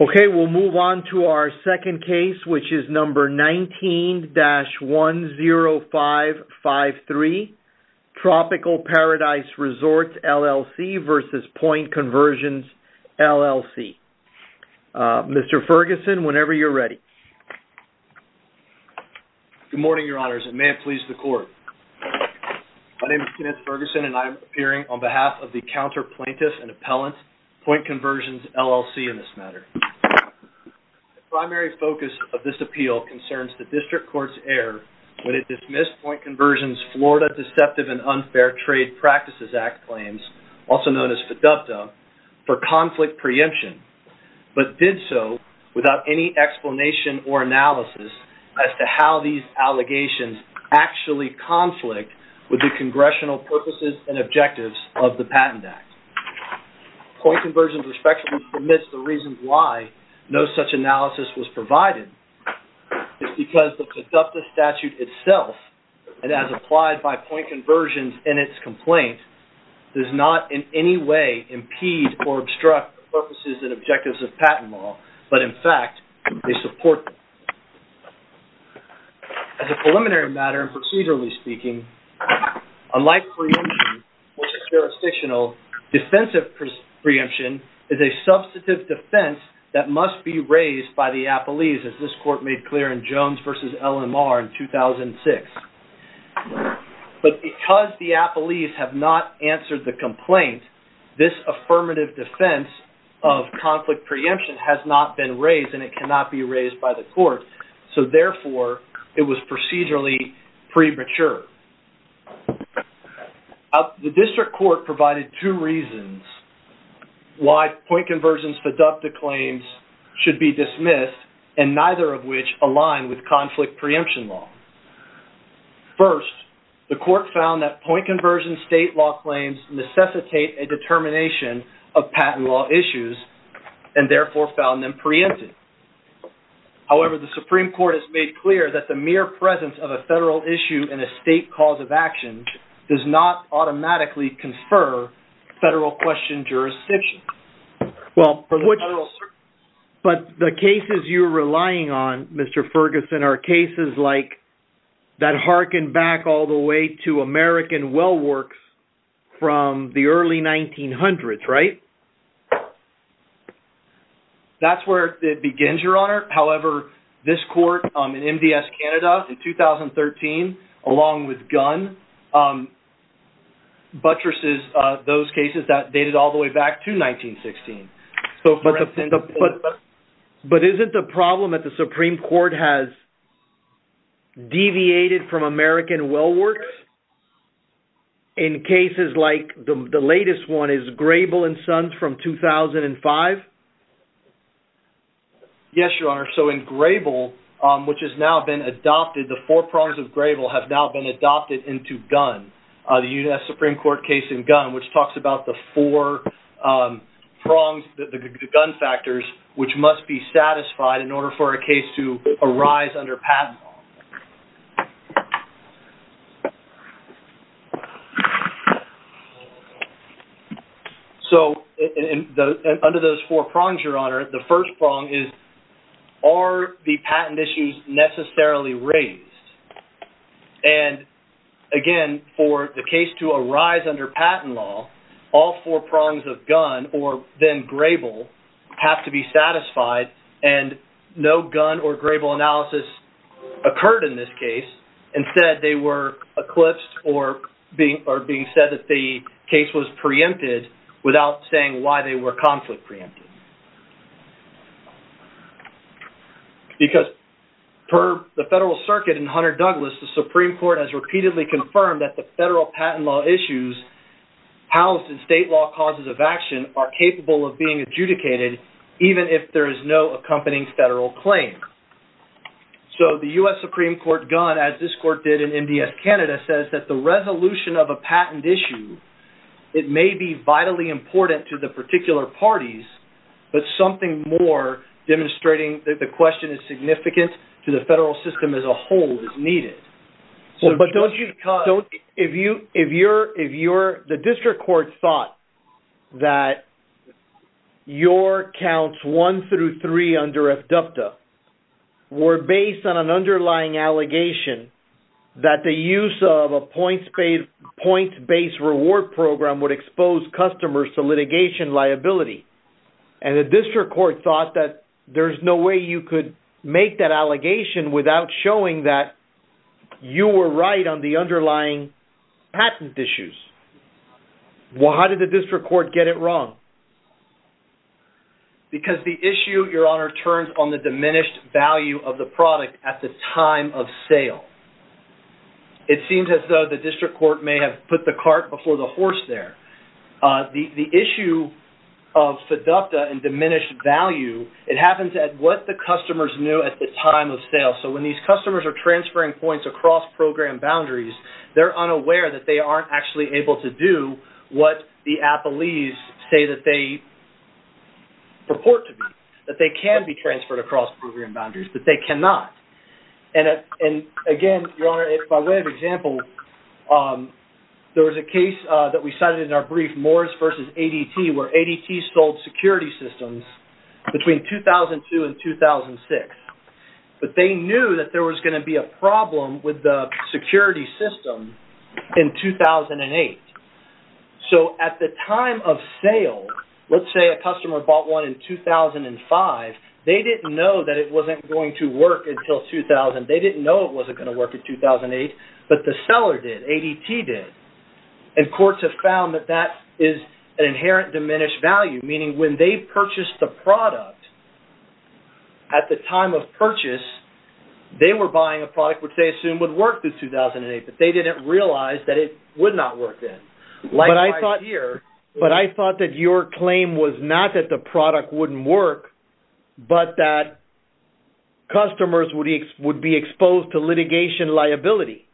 Okay, we'll move on to our second case, which is number 19-10553, Tropical Paradise Resorts, LLC v. Point Conversions, LLC. Mr. Ferguson, whenever you're ready. Good morning, Your Honors, and may it please the Court. My name is Kenneth Ferguson, and I am appearing on behalf of the Counter Plaintiffs and Appellants, Point Conversions, LLC in this matter. The primary focus of this appeal concerns the District Court's error when it dismissed Point Conversions' Florida Deceptive and Unfair Trade Practices Act claims, also known as FDUFTA, for conflict preemption, but did so without any explanation or analysis as to how these allegations actually conflict with the congressional purposes and objectives of the Patent Act. Point Conversions respectfully admits the reason why no such analysis was provided is because the FDUFTA statute itself, and as applied by Point Conversions in its complaint, does not in any way impede or obstruct the purposes and objectives of patent law, but in fact, they support them. As a preliminary matter and procedurally speaking, unlike preemption, which is jurisdictional, defensive preemption is a substantive defense that must be raised by the appellees, as this Court made clear in Jones v. LMR in 2006. But because the appellees have not answered the complaint, this affirmative defense of conflict preemption has not been raised and it cannot be raised by the Court, so therefore it was procedurally premature. The District Court provided two reasons why Point Conversions' FDUFTA claims should be dismissed, and neither of which align with conflict preemption law. First, the Court found that Point Conversions' state law claims necessitate a determination of patent law issues, and therefore found them preempted. However, the Supreme Court has made clear that the mere presence of a federal issue in a state cause of action does not automatically confer federal question jurisdiction. But the cases you're relying on, Mr. Ferguson, are cases like that harken back all the way to American well works from the early 1900s, right? That's where it begins, Your Honor. However, this Court in MDS Canada in 2013, along with Gunn, buttresses those cases that dated all the way back to 1916. But isn't the problem that the Supreme Court has deviated from American well works in cases like the latest one is Grable and Sons from 2005? Yes, Your Honor. So in Grable, which has now been adopted, the four prongs of Grable have now been adopted into Gunn, the U.S. Supreme Court case in Gunn, which talks about the four prongs, the gun factors, which must be satisfied in order for a case to arise under patent law. So under those four prongs, Your Honor, the first prong is, are the patent issues necessarily raised? And again, for the case to arise under patent law, all four prongs of Gunn or then Grable have to be satisfied, and no Gunn or Grable analysis occurred in this case. Instead, they were eclipsed or being said that the case was preempted without saying why they were conflict preempted. Because per the Federal Circuit in Hunter Douglas, the Supreme Court has repeatedly confirmed that the federal patent law issues housed in state law causes of action are capable of being adjudicated even if there is no accompanying federal claim. So the U.S. Supreme Court Gunn, as this court did in MDS Canada, says that the resolution of a patent issue, it may be vitally important to the particular parties, but something more demonstrating that the question is significant to the federal system as a whole is needed. The district court thought that your counts one through three under FDUPTA were based on an underlying allegation that the use of a point-based reward program would expose customers to litigation liability. And the district court thought that there's no way you could make that allegation without showing that you were right on the underlying patent issues. Well, how did the district court get it wrong? Because the issue, Your Honor, turns on the diminished value of the product at the time of sale. It seems as though the district court may have put the cart before the horse there. The issue of FDUPTA and diminished value, it happens at what the customers knew at the time of sale. So when these customers are transferring points across program boundaries, they're unaware that they aren't actually able to do what the athletes say that they purport to be, that they can be transferred across program boundaries, but they cannot. And again, Your Honor, by way of example, there was a case that we cited in our brief, Morris versus ADT, where ADT sold security systems between 2002 and 2006. But they knew that there was going to be a problem with the security system in 2008. So at the time of sale, let's say a customer bought one in 2005, they didn't know that it wasn't going to work until 2000. They didn't know it wasn't going to work in 2008, but the seller did, ADT did. And courts have found that that is an inherent diminished value, meaning when they purchased the product at the time of purchase, they were buying a product which they assumed would work through 2008, but they didn't realize that it would not work then. But I thought that your claim was not that the product wouldn't work, but that customers would be exposed to litigation liability.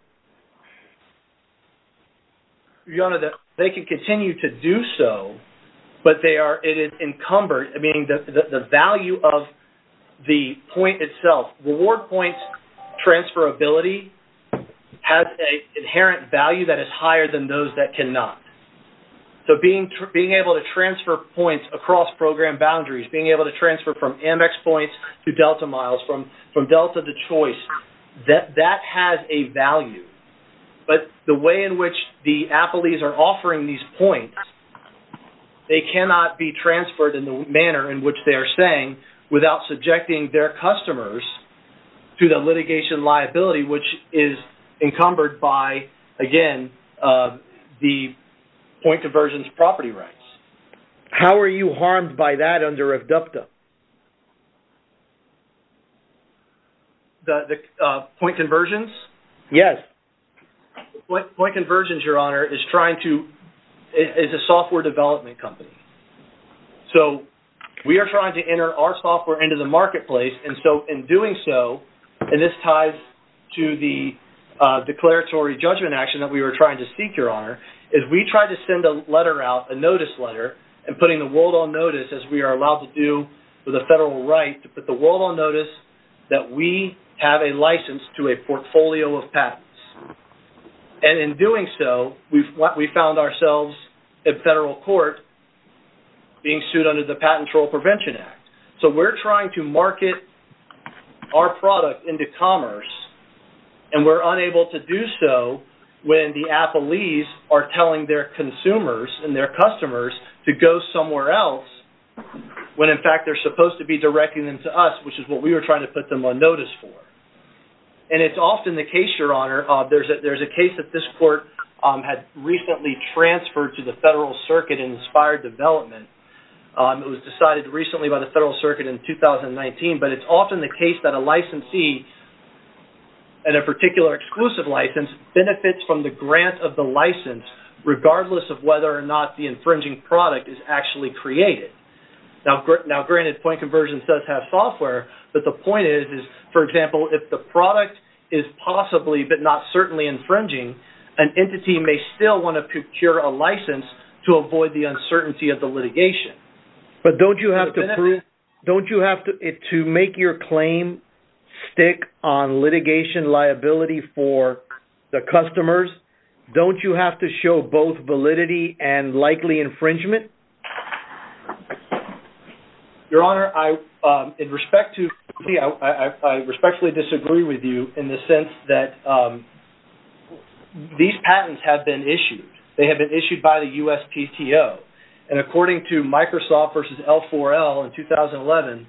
Your Honor, they can continue to do so, but they are encumbered, meaning the value of the point itself, reward points transferability has an inherent value that is higher than those that cannot. So being able to transfer points across program boundaries, being able to transfer from Amex points to Delta miles, from Delta to Choice, that has a value. But the way in which the appellees are offering these points, they cannot be transferred in the manner in which they are saying without subjecting their customers to the litigation liability, which is encumbered by, again, the point conversions property rights. How are you harmed by that under ADDUCTA? Point conversions? Yes. Point conversions, Your Honor, is a software development company. So we are trying to enter our software into the marketplace, and so in doing so, and this ties to the declaratory judgment action that we were trying to seek, Your Honor, is we tried to send a letter out, a notice letter, and putting the world on notice, as we are allowed to do with a federal right, to put the world on notice that we have a license to a portfolio of patents. And in doing so, we found ourselves in federal court being sued under the Patent Troll Prevention Act. So we're trying to market our product into commerce, and we're unable to do so when the appellees are telling their consumers and their customers to go somewhere else, when in fact they're supposed to be directing them to us, which is what we were trying to put them on notice for. And it's often the case, Your Honor, there's a case that this court had recently transferred to the federal circuit and inspired development. It was decided recently by the federal circuit in 2019, but it's often the case that a licensee and a particular exclusive license benefits from the grant of the license, regardless of whether or not the infringing product is actually created. Now, granted, Point Conversion does have software, but the point is, for example, if the product is possibly but not certainly infringing, an entity may still want to procure a license to avoid the uncertainty of the litigation. But don't you have to prove, don't you have to make your claim stick on litigation liability for the customers? Don't you have to show both validity and likely infringement? Your Honor, I respectfully disagree with you in the sense that these patents have been issued. They have been issued by the USPTO. And according to Microsoft versus L4L in 2011,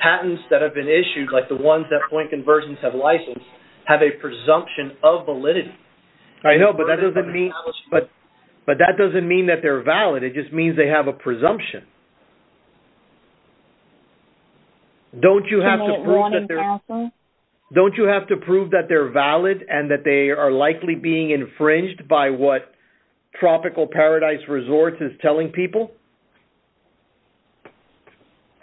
patents that have been issued, like the ones that Point Conversions have licensed, have a presumption of validity. I know, but that doesn't mean that they're valid. It just means they have a presumption. Don't you have to prove that they're valid and that they are likely being infringed by what Tropical Paradise Resorts is telling people?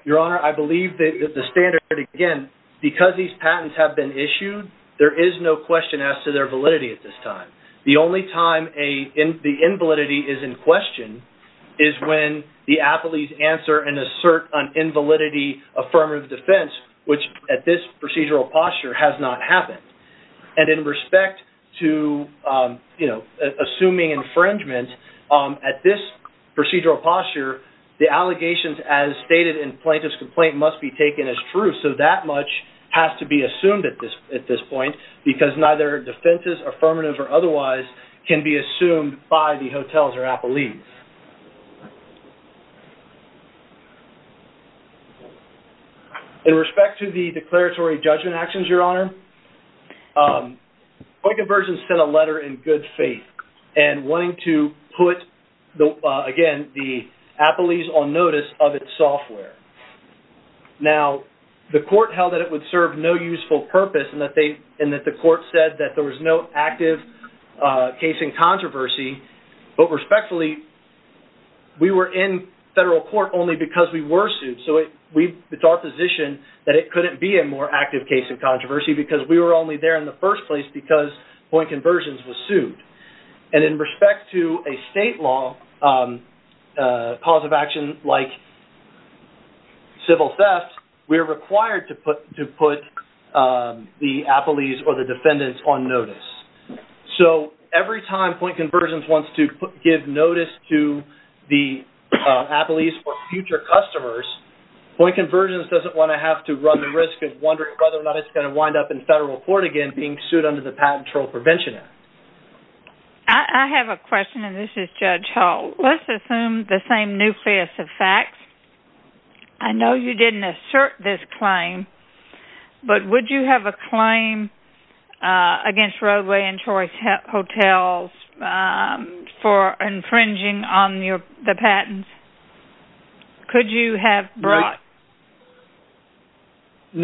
Your Honor, I believe that the standard, again, because these patents have been issued, there is no question as to their validity at this time. The only time the invalidity is in question is when the appellees answer and assert an invalidity affirmative defense, which at this procedural posture has not happened. And in respect to assuming infringement, at this procedural posture, the allegations as stated in plaintiff's complaint must be taken as true, so that much has to be assumed at this point, because neither defenses, affirmatives, or otherwise can be assumed by the hotels or appellees. In respect to the declaratory judgment actions, Your Honor, Point Conversion sent a letter in good faith and wanting to put, again, the appellees on notice of its software. Now, the court held that it would serve no useful purpose and that the court said that there was no active case in controversy, but respectfully, we were in federal court only because we were sued, so it's our position that it couldn't be a more active case in controversy because we were only there in the first place because Point Conversions was sued. And in respect to a state law cause of action like civil theft, we are required to put the appellees or the defendants on notice. So every time Point Conversions wants to give notice to the appellees or future customers, Point Conversions doesn't want to have to run the risk of wondering whether or not it's going to wind up in federal court again being sued under the Patent Trial Prevention Act. I have a question, and this is Judge Hall. Let's assume the same nucleus of facts. I know you didn't assert this claim, but would you have a claim against Roadway and Choice Hotels for infringing on the patents? Could you have brought a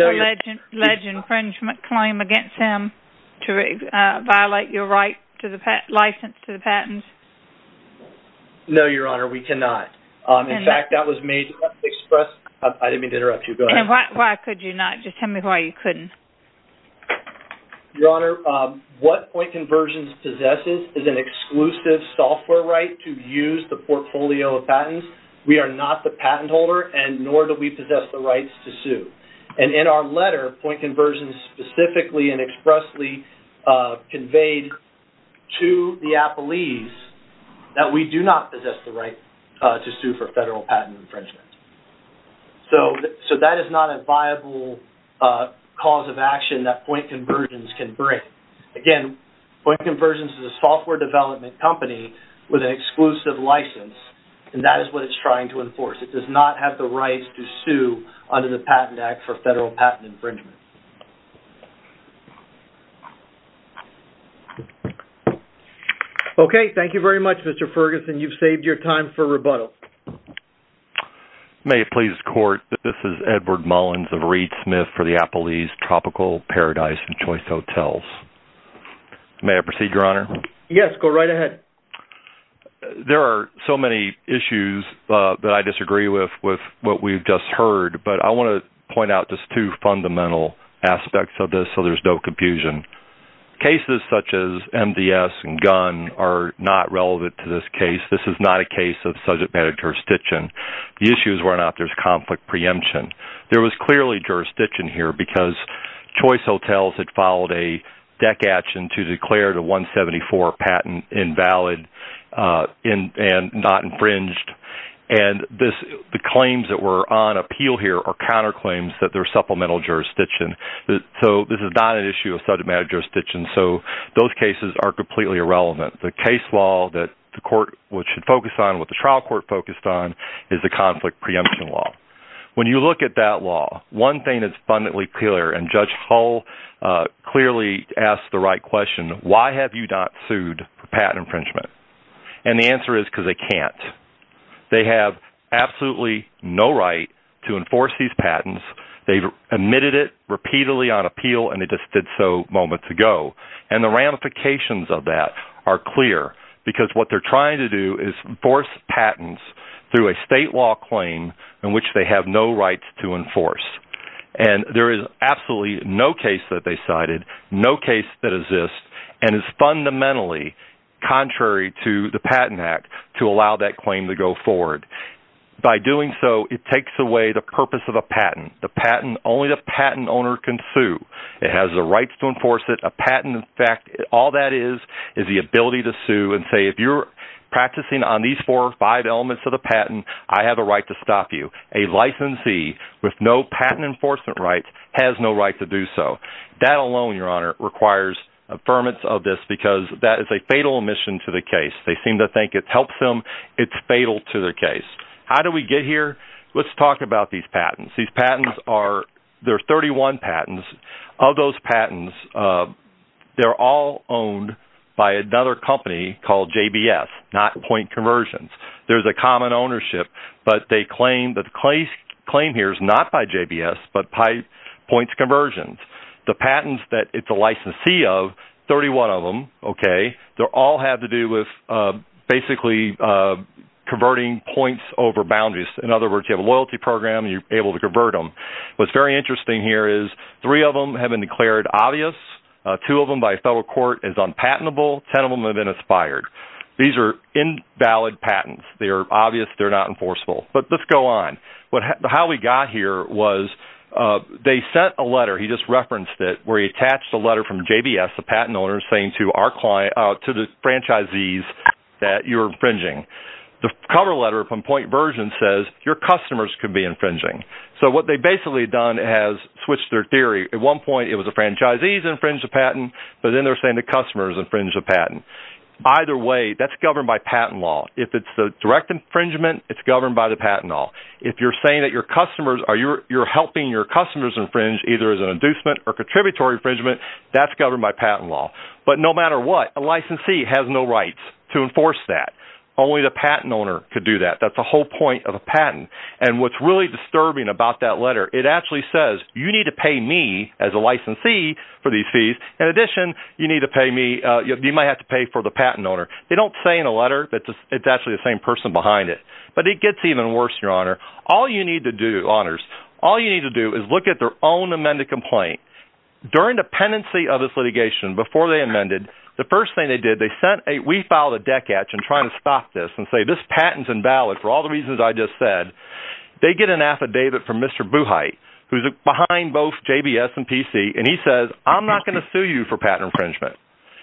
alleged infringement claim against him to violate your license to the patents? No, Your Honor, we cannot. In fact, that was made to express—I didn't mean to interrupt you. Why could you not? Just tell me why you couldn't. Your Honor, what Point Conversions possesses is an exclusive software right to use the portfolio of patents. We are not the patent holder, nor do we possess the rights to sue. And in our letter, Point Conversions specifically and expressly conveyed to the appellees that we do not possess the right to sue for federal patent infringement. So that is not a viable cause of action that Point Conversions can bring. Again, Point Conversions is a software development company with an exclusive license, and that is what it's trying to enforce. It does not have the rights to sue under the Patent Act for federal patent infringement. Okay, thank you very much, Mr. Ferguson. You've saved your time for rebuttal. May it please the Court that this is Edward Mullins of Reed Smith for the Appellee's Tropical Paradise and Choice Hotels. May I proceed, Your Honor? Yes, go right ahead. There are so many issues that I disagree with what we've just heard, but I want to point out just two fundamental aspects of this so there's no confusion. Cases such as MDS and Gunn are not relevant to this case. This is not a case of subject matter jurisdiction. The issue is whether or not there's conflict preemption. There was clearly jurisdiction here because Choice Hotels had followed a DEC action to declare the 174 patent invalid and not infringed, and the claims that were on appeal here are counterclaims that there's supplemental jurisdiction. So this is not an issue of subject matter jurisdiction, so those cases are completely irrelevant. The case law that the Court should focus on, what the trial court focused on, is the conflict preemption law. When you look at that law, one thing is abundantly clear, and Judge Hull clearly asked the right question, why have you not sued for patent infringement? And the answer is because they can't. They have absolutely no right to enforce these patents. They've admitted it repeatedly on appeal, and they just did so moments ago. And the ramifications of that are clear because what they're trying to do is enforce patents through a state law claim in which they have no rights to enforce. And there is absolutely no case that they cited, no case that exists, and is fundamentally contrary to the Patent Act to allow that claim to go forward. By doing so, it takes away the purpose of a patent. Only the patent owner can sue. It has the rights to enforce it. A patent, in fact, all that is is the ability to sue and say if you're practicing on these four or five elements of the patent, I have a right to stop you. A licensee with no patent enforcement rights has no right to do so. That alone, Your Honor, requires affirmance of this because that is a fatal omission to the case. They seem to think it helps them. It's fatal to the case. How did we get here? Let's talk about these patents. These patents are 31 patents. Of those patents, they're all owned by another company called JBS, not Point Conversions. There's a common ownership, but the claim here is not by JBS, but by Point Conversions. The patents that it's a licensee of, 31 of them, okay, they all have to do with basically converting points over boundaries. In other words, you have a loyalty program, you're able to convert them. What's very interesting here is three of them have been declared obvious, two of them by a federal court as unpatentable, ten of them have been expired. These are invalid patents. They are obvious, they're not enforceable. But let's go on. How we got here was they sent a letter, he just referenced it, where he attached a letter from JBS, the patent owner, saying to the franchisees that you're infringing. The cover letter from Point Versions says your customers could be infringing. So what they've basically done is switched their theory. At one point it was the franchisees infringe the patent, but then they're saying the customers infringe the patent. Either way, that's governed by patent law. If it's a direct infringement, it's governed by the patent law. If you're saying that you're helping your customers infringe, either as an inducement or contributory infringement, that's governed by patent law. But no matter what, a licensee has no rights to enforce that. Only the patent owner could do that. That's the whole point of a patent. And what's really disturbing about that letter, it actually says, you need to pay me, as a licensee, for these fees. In addition, you might have to pay for the patent owner. They don't say in the letter that it's actually the same person behind it. But it gets even worse, Your Honor. All you need to do, Honors, all you need to do is look at their own amended complaint. During the pendency of this litigation, before they amended, the first thing they did, we filed a deck etch in trying to stop this and say this patent's invalid for all the reasons I just said. They get an affidavit from Mr. Buchheit, who's behind both JBS and PC, and he says, I'm not going to sue you for patent infringement.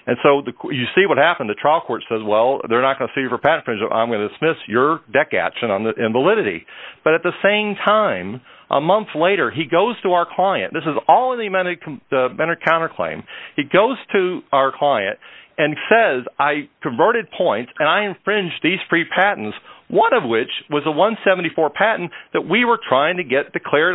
And so you see what happened. The trial court says, well, they're not going to sue you for patent infringement. I'm going to dismiss your deck etch in validity. But at the same time, a month later, he goes to our client. This is all in the amended counterclaim. He goes to our client and says, I converted points, and I infringed these free patents, one of which was a 174 patent that we were trying to get declared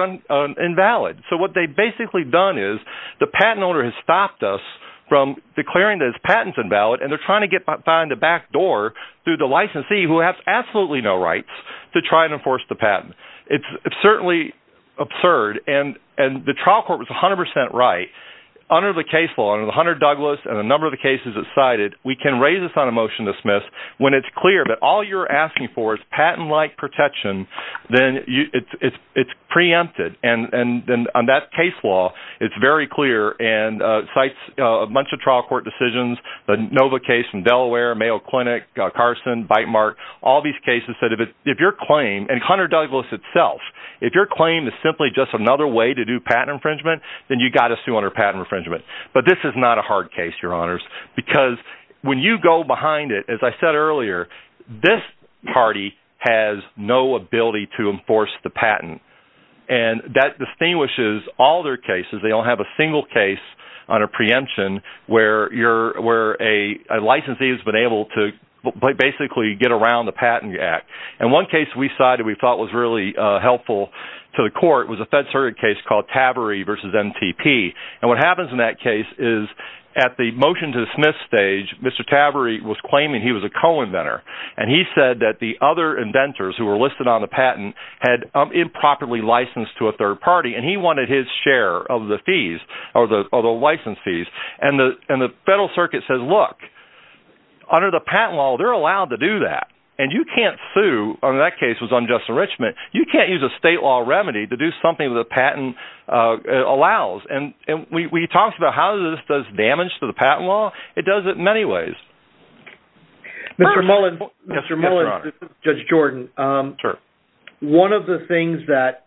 invalid. So what they've basically done is the patent owner has stopped us from declaring that his patent's invalid, and they're trying to find a backdoor through the licensee, who has absolutely no rights, to try and enforce the patent. It's certainly absurd, and the trial court was 100% right. Under the case law, under the Hunter-Douglas and a number of the cases it cited, we can raise this on a motion to dismiss. When it's clear that all you're asking for is patent-like protection, then it's preempted. And on that case law, it's very clear and cites a bunch of trial court decisions, the Nova case in Delaware, Mayo Clinic, Carson, Bytemark, all these cases that if your claim, and Hunter-Douglas itself, if your claim is simply just another way to do patent infringement, then you've got to sue under patent infringement. But this is not a hard case, Your Honors, because when you go behind it, as I said earlier, this party has no ability to enforce the patent. And that distinguishes all their cases. They don't have a single case on a preemption where a licensee has been able to basically get around the Patent Act. And one case we cited we thought was really helpful to the court was a fed-certed case called Taveree v. MTP. And what happens in that case is at the motion-to-dismiss stage, Mr. Taveree was claiming he was a co-inventor. And he said that the other inventors who were listed on the patent had improperly licensed to a third party, and he wanted his share of the fees or the license fees. And the federal circuit says, look, under the patent law, they're allowed to do that. And you can't sue, and that case was unjust enrichment, you can't use a state law remedy to do something the patent allows. And we talked about how this does damage to the patent law. It does it in many ways. Mr. Mullins. Yes, Your Honor. This is Judge Jordan. Sure. One of the things that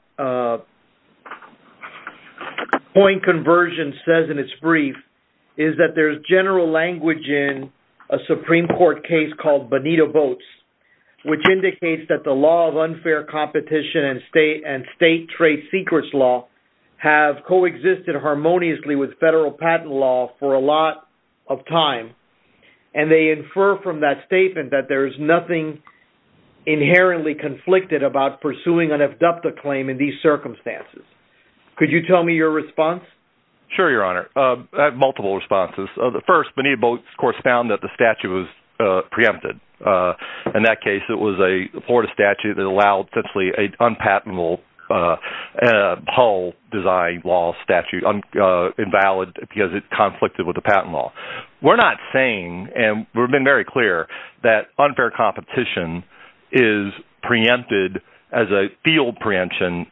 point conversion says in its brief is that there's general language in a Supreme Court case called Bonito Votes, which indicates that the law of unfair competition and state trade secrets law have coexisted harmoniously with federal patent law for a lot of time. And they infer from that statement that there is nothing inherently conflicted about pursuing an ad dupta claim in these circumstances. Could you tell me your response? Sure, Your Honor. I have multiple responses. The first, Bonito Votes, of course, found that the statute was preempted. In that case, it was a Florida statute that allowed essentially an unpatentable whole design law statute, invalid, because it conflicted with the patent law. We're not saying, and we've been very clear, that unfair competition is preempted as a field preemption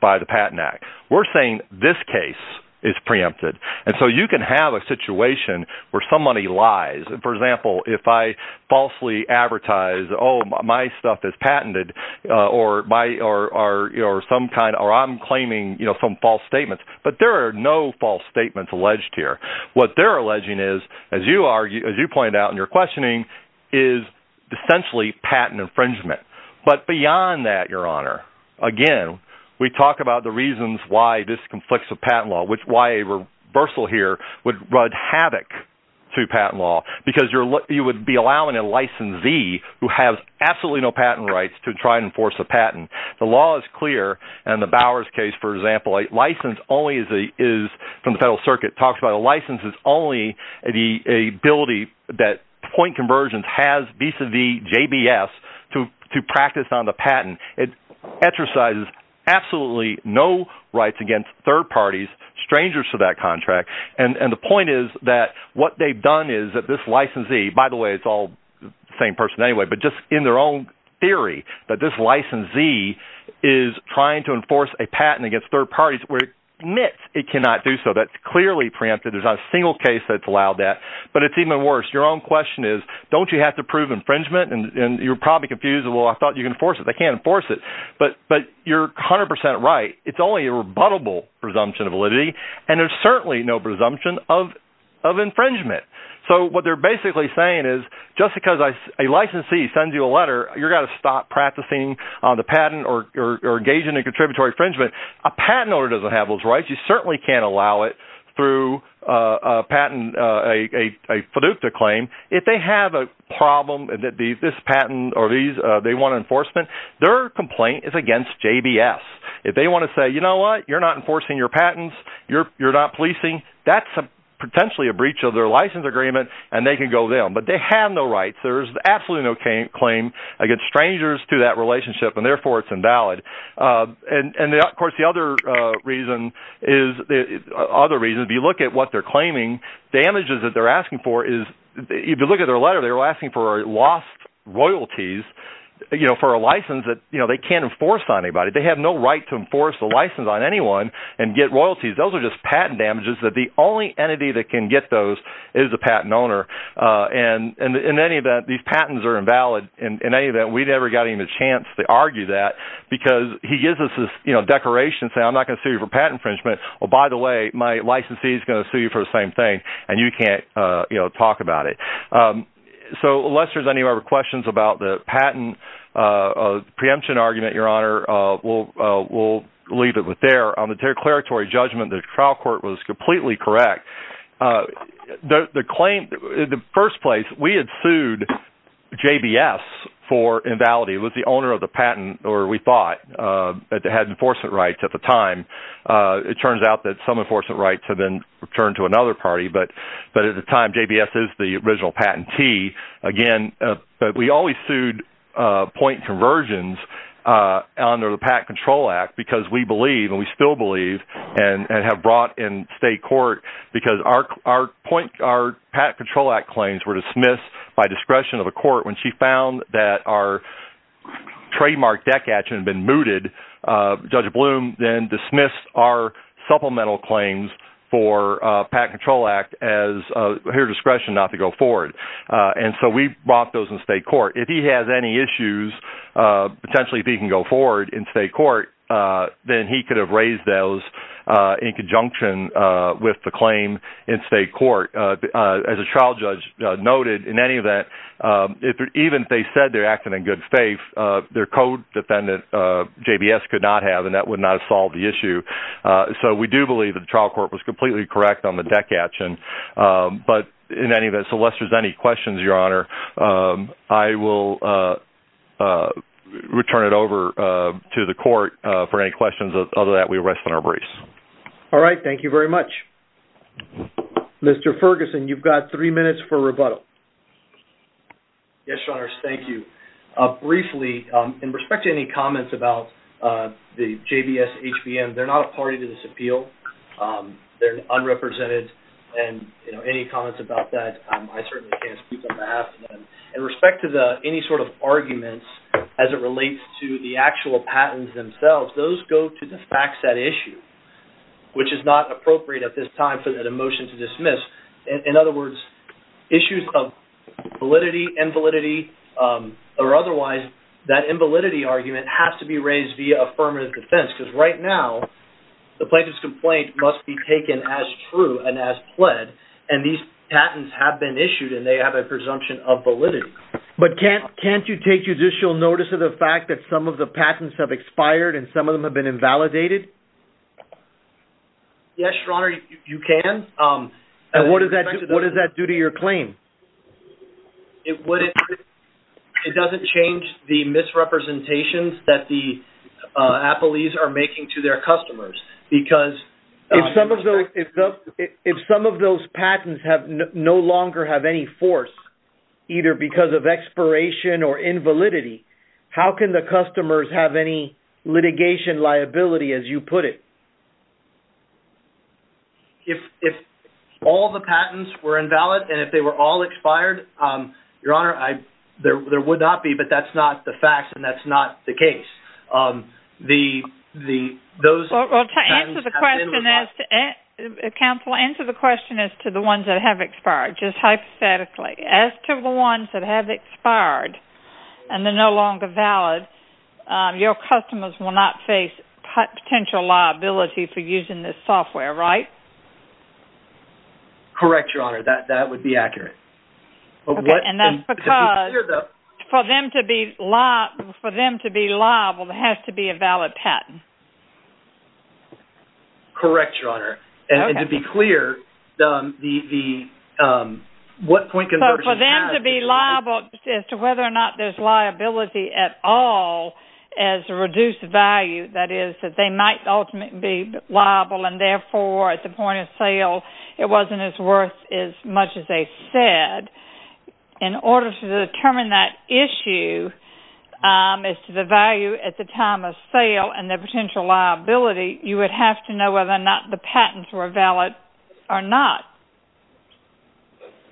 by the Patent Act. We're saying this case is preempted. And so you can have a situation where somebody lies. For example, if I falsely advertise, oh, my stuff is patented, or I'm claiming some false statements, but there are no false statements alleged here. What they're alleging is, as you pointed out in your questioning, is essentially patent infringement. But beyond that, Your Honor, again, we talk about the reasons why this conflicts with patent law, which is why a reversal here would rud havoc to patent law, because you would be allowing a licensee who has absolutely no patent rights to try and enforce a patent. The law is clear. In the Bowers case, for example, a license only is, from the Federal Circuit, talks about a license is only the ability that point conversions has vis-a-vis JBS to practice on the patent. It exercises absolutely no rights against third parties, strangers to that contract. And the point is that what they've done is that this licensee, by the way, it's all the same person anyway, but just in their own theory, that this licensee is trying to enforce a patent against third parties, where it admits it cannot do so. That's clearly preempted. There's not a single case that's allowed that. But it's even worse. Your own question is, don't you have to prove infringement? And you're probably confused. Well, I thought you can enforce it. They can't enforce it. But you're 100% right. It's only a rebuttable presumption of validity, and there's certainly no presumption of infringement. So what they're basically saying is just because a licensee sends you a letter, you've got to stop practicing on the patent or engaging in a contributory infringement. A patent owner doesn't have those rights. You certainly can't allow it through a patent, a FDUCA claim. If they have a problem that this patent or they want enforcement, their complaint is against JBS. If they want to say, you know what, you're not enforcing your patents, you're not policing, that's potentially a breach of their license agreement, and they can go there. But they have no rights. There's absolutely no claim against strangers through that relationship, and therefore it's invalid. If you look at their letter, they were asking for lost royalties for a license. They can't enforce on anybody. They have no right to enforce a license on anyone and get royalties. Those are just patent damages. The only entity that can get those is the patent owner. And in any event, these patents are invalid. In any event, we never got even a chance to argue that because he gives us this declaration saying, I'm not going to sue you for patent infringement. By the way, my licensee is going to sue you for the same thing, and you can't talk about it. So unless there's any other questions about the patent preemption argument, Your Honor, we'll leave it there. On the declaratory judgment, the trial court was completely correct. The claim, in the first place, we had sued JBS for invalidity. It was the owner of the patent, or we thought, that had enforcement rights at the time. It turns out that some enforcement rights have been returned to another party. But at the time, JBS is the original patentee. Again, we always sued point conversions under the Patent Control Act because we believe, and we still believe, and have brought in state court because our Patent Control Act claims were dismissed by discretion of a court. When she found that our trademark deck action had been mooted, Judge Bloom then dismissed our supplemental claims for Patent Control Act as her discretion not to go forward. And so we brought those in state court. If he has any issues, potentially if he can go forward in state court, then he could have raised those in conjunction with the claim in state court. As a trial judge noted, in any event, even if they said they're acting in good faith, their co-defendant, JBS, could not have, and that would not have solved the issue. So we do believe that the trial court was completely correct on the deck action. But in any event, so unless there's any questions, Your Honor, I will return it over to the court for any questions. Other than that, we rest on our brace. All right. Thank you very much. Mr. Ferguson, you've got three minutes for rebuttal. Yes, Your Honors. Thank you. Briefly, in respect to any comments about the JBS-HBM, they're not a party to this appeal. They're unrepresented. And, you know, any comments about that, I certainly can't speak on behalf of them. In respect to any sort of arguments as it relates to the actual patents themselves, those go to the facts at issue, which is not appropriate at this time for the motion to dismiss. In other words, issues of validity, invalidity, or otherwise, that invalidity argument has to be raised via affirmative defense, because right now the plaintiff's complaint must be taken as true and as pled. And these patents have been issued, and they have a presumption of validity. But can't you take judicial notice of the fact that some of the patents have expired and some of them have been invalidated? Yes, Your Honor, you can. And what does that do to your claim? It doesn't change the misrepresentations that the appellees are making to their customers, because... If some of those patents no longer have any force, either because of expiration or invalidity, how can the customers have any litigation liability, as you put it? If all the patents were invalid, and if they were all expired, Your Honor, there would not be, but that's not the facts, and that's not the case. Well, to answer the question as to... Counsel, answer the question as to the ones that have expired, just hypothetically. As to the ones that have expired and are no longer valid, your customers will not face potential liability for using this software, right? Correct, Your Honor, that would be accurate. And that's because for them to be liable, there has to be a valid patent. Correct, Your Honor. And to be clear, the... For them to be liable, as to whether or not there's liability at all as a reduced value, that is, that they might ultimately be liable, and therefore, at the point of sale, it wasn't as worth as much as they said. In order to determine that issue, as to the value at the time of sale and the potential liability, you would have to know whether or not the patents were valid or not.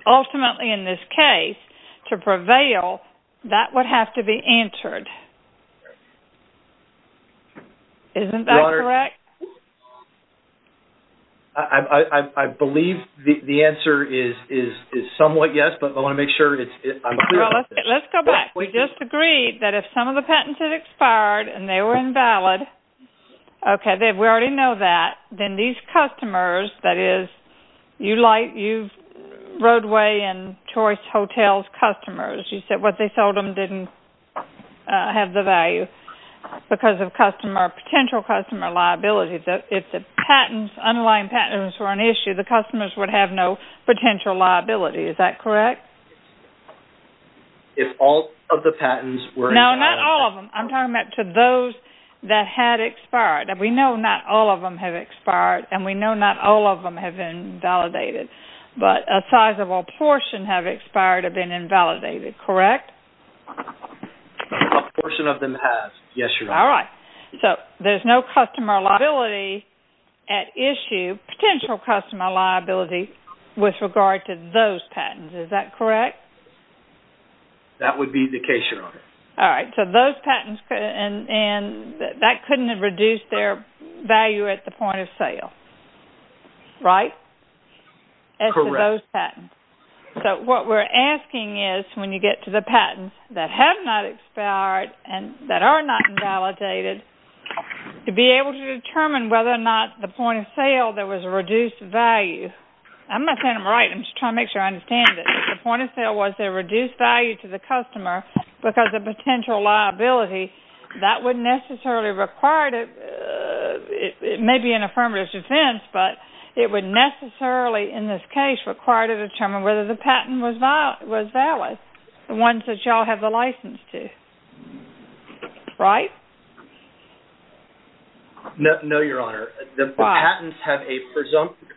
Ultimately, in this case, to prevail, that would have to be answered. Isn't that correct? I believe the answer is somewhat yes, but I want to make sure I'm clear on this. Let's go back. We just agreed that if some of the patents had expired and they were invalid, okay, we already know that, then these customers, that is, you like, you've... Roadway and Choice Hotels customers, you said what they sold them didn't have the value because of potential customer liability. If the underlying patents were an issue, the customers would have no potential liability. Is that correct? If all of the patents were invalid... I'm talking about to those that had expired. We know not all of them have expired, and we know not all of them have been validated, but a sizable portion have expired or been invalidated, correct? A portion of them have, yes, Your Honor. All right. There's no customer liability at issue, potential customer liability, with regard to those patents. Is that correct? That would be the case, Your Honor. All right. So those patents... And that couldn't have reduced their value at the point of sale, right? Correct. So what we're asking is, when you get to the patents that have not expired and that are not invalidated, to be able to determine whether or not the point of sale, there was a reduced value. I'm not saying I'm right. I'm just trying to make sure I understand it. The point of sale was there was a reduced value to the customer because of potential liability. That wouldn't necessarily require... It may be an affirmative defense, but it would necessarily, in this case, require to determine whether the patent was valid. The ones that you all have the license to. Right? No, Your Honor. Why? The patents have a presumptive...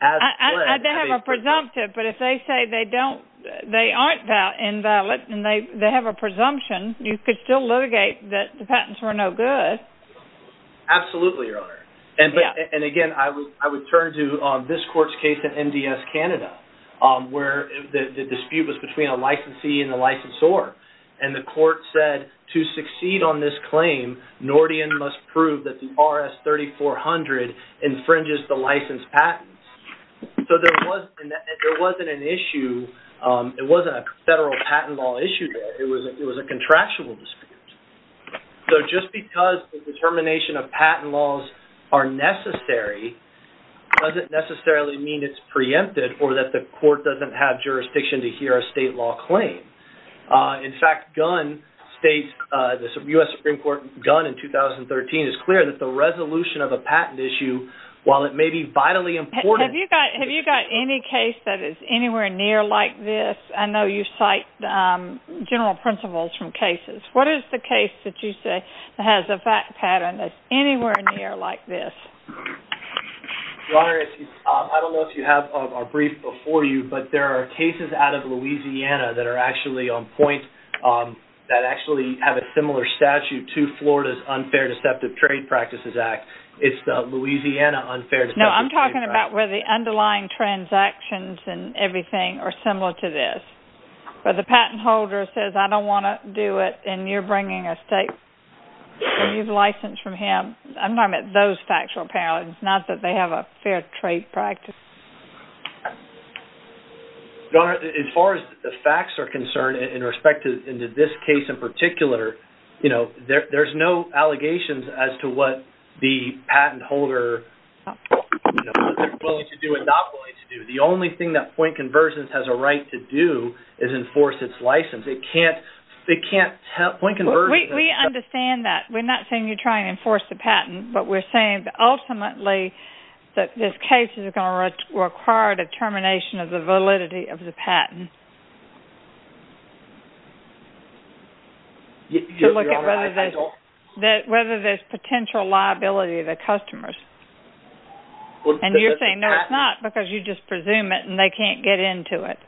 I don't have a presumptive, but if they say they aren't invalid and they have a presumption, you could still litigate that the patents were no good. Absolutely, Your Honor. And again, I would turn to this court's case in MDS Canada, where the dispute was between a licensee and a licensor. And the court said, to succeed on this claim, Nordian must prove that the RS-3400 infringes the licensed patents. So there wasn't an issue. It wasn't a federal patent law issue there. It was a contractual dispute. So just because the determination of patent laws are necessary doesn't necessarily mean it's preempted or that the court doesn't have jurisdiction to hear a state law claim. In fact, Gunn states, the U.S. Supreme Court, Gunn in 2013, is clear that the resolution of a patent issue, while it may be vitally important... Have you got any case that is anywhere near like this? I know you cite general principles from cases. What is the case that you say has a fact pattern that's anywhere near like this? Your Honor, I don't know if you have our brief before you, but there are cases out of Louisiana that are actually on point, that actually have a similar statute to Florida's Unfair Deceptive Trade Practices Act. It's the Louisiana Unfair Deceptive Trade Practices Act. No, I'm talking about where the underlying transactions and everything are similar to this. Where the patent holder says, I don't want to do it, and you're bringing a state... and you've licensed from him. I'm talking about those factual parallels, not that they have a fair trade practice. Your Honor, as far as the facts are concerned, in respect to this case in particular, there's no allegations as to what the patent holder... what they're willing to do and not willing to do. The only thing that Point Conversions has a right to do is enforce its license. It can't... Point Conversions... We understand that. We're not saying you're trying to enforce the patent, but we're saying that ultimately, that this case is going to require determination of the validity of the patent. Your Honor, I don't... To look at whether there's potential liability to the customers. And you're saying no, it's not, because you just presume it and they can't get into it.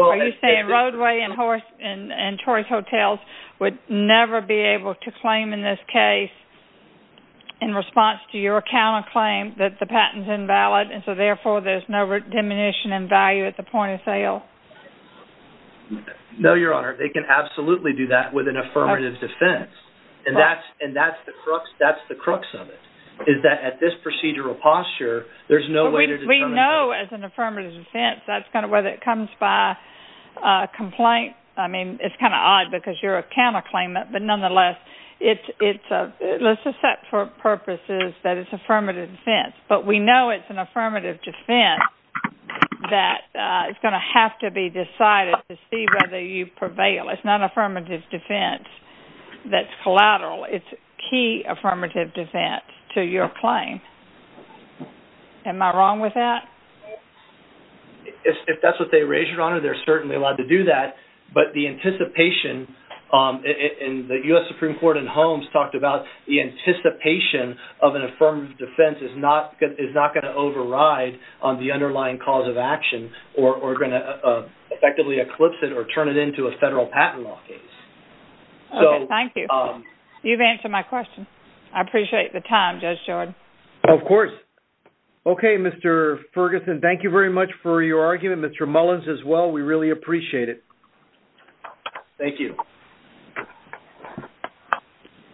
Are you saying Roadway and Choice Hotels would never be able to claim in this case in response to your counterclaim that the patent's invalid and so therefore there's no diminution in value at the point of sale? No, Your Honor. They can absolutely do that with an affirmative defense. And that's the crux of it, is that at this procedural posture, there's no way to determine... We know as an affirmative defense, that's kind of whether it comes by complaint. I mean, it's kind of odd because you're a counterclaimant, but nonetheless, let's accept for purposes that it's affirmative defense. But we know it's an affirmative defense that is going to have to be decided to see whether you prevail. It's not affirmative defense that's collateral. It's key affirmative defense to your claim. Am I wrong with that? If that's what they raise, Your Honor, they're certainly allowed to do that. But the anticipation, and the U.S. Supreme Court in Holmes talked about the anticipation of an affirmative defense is not going to override on the underlying cause of action or going to effectively eclipse it or turn it into a federal patent law case. Thank you. You've answered my question. I appreciate the time, Judge Jordan. Of course. Okay, Mr. Ferguson, thank you very much for your argument. Thank you, Mr. Mullins, as well. We really appreciate it. Thank you.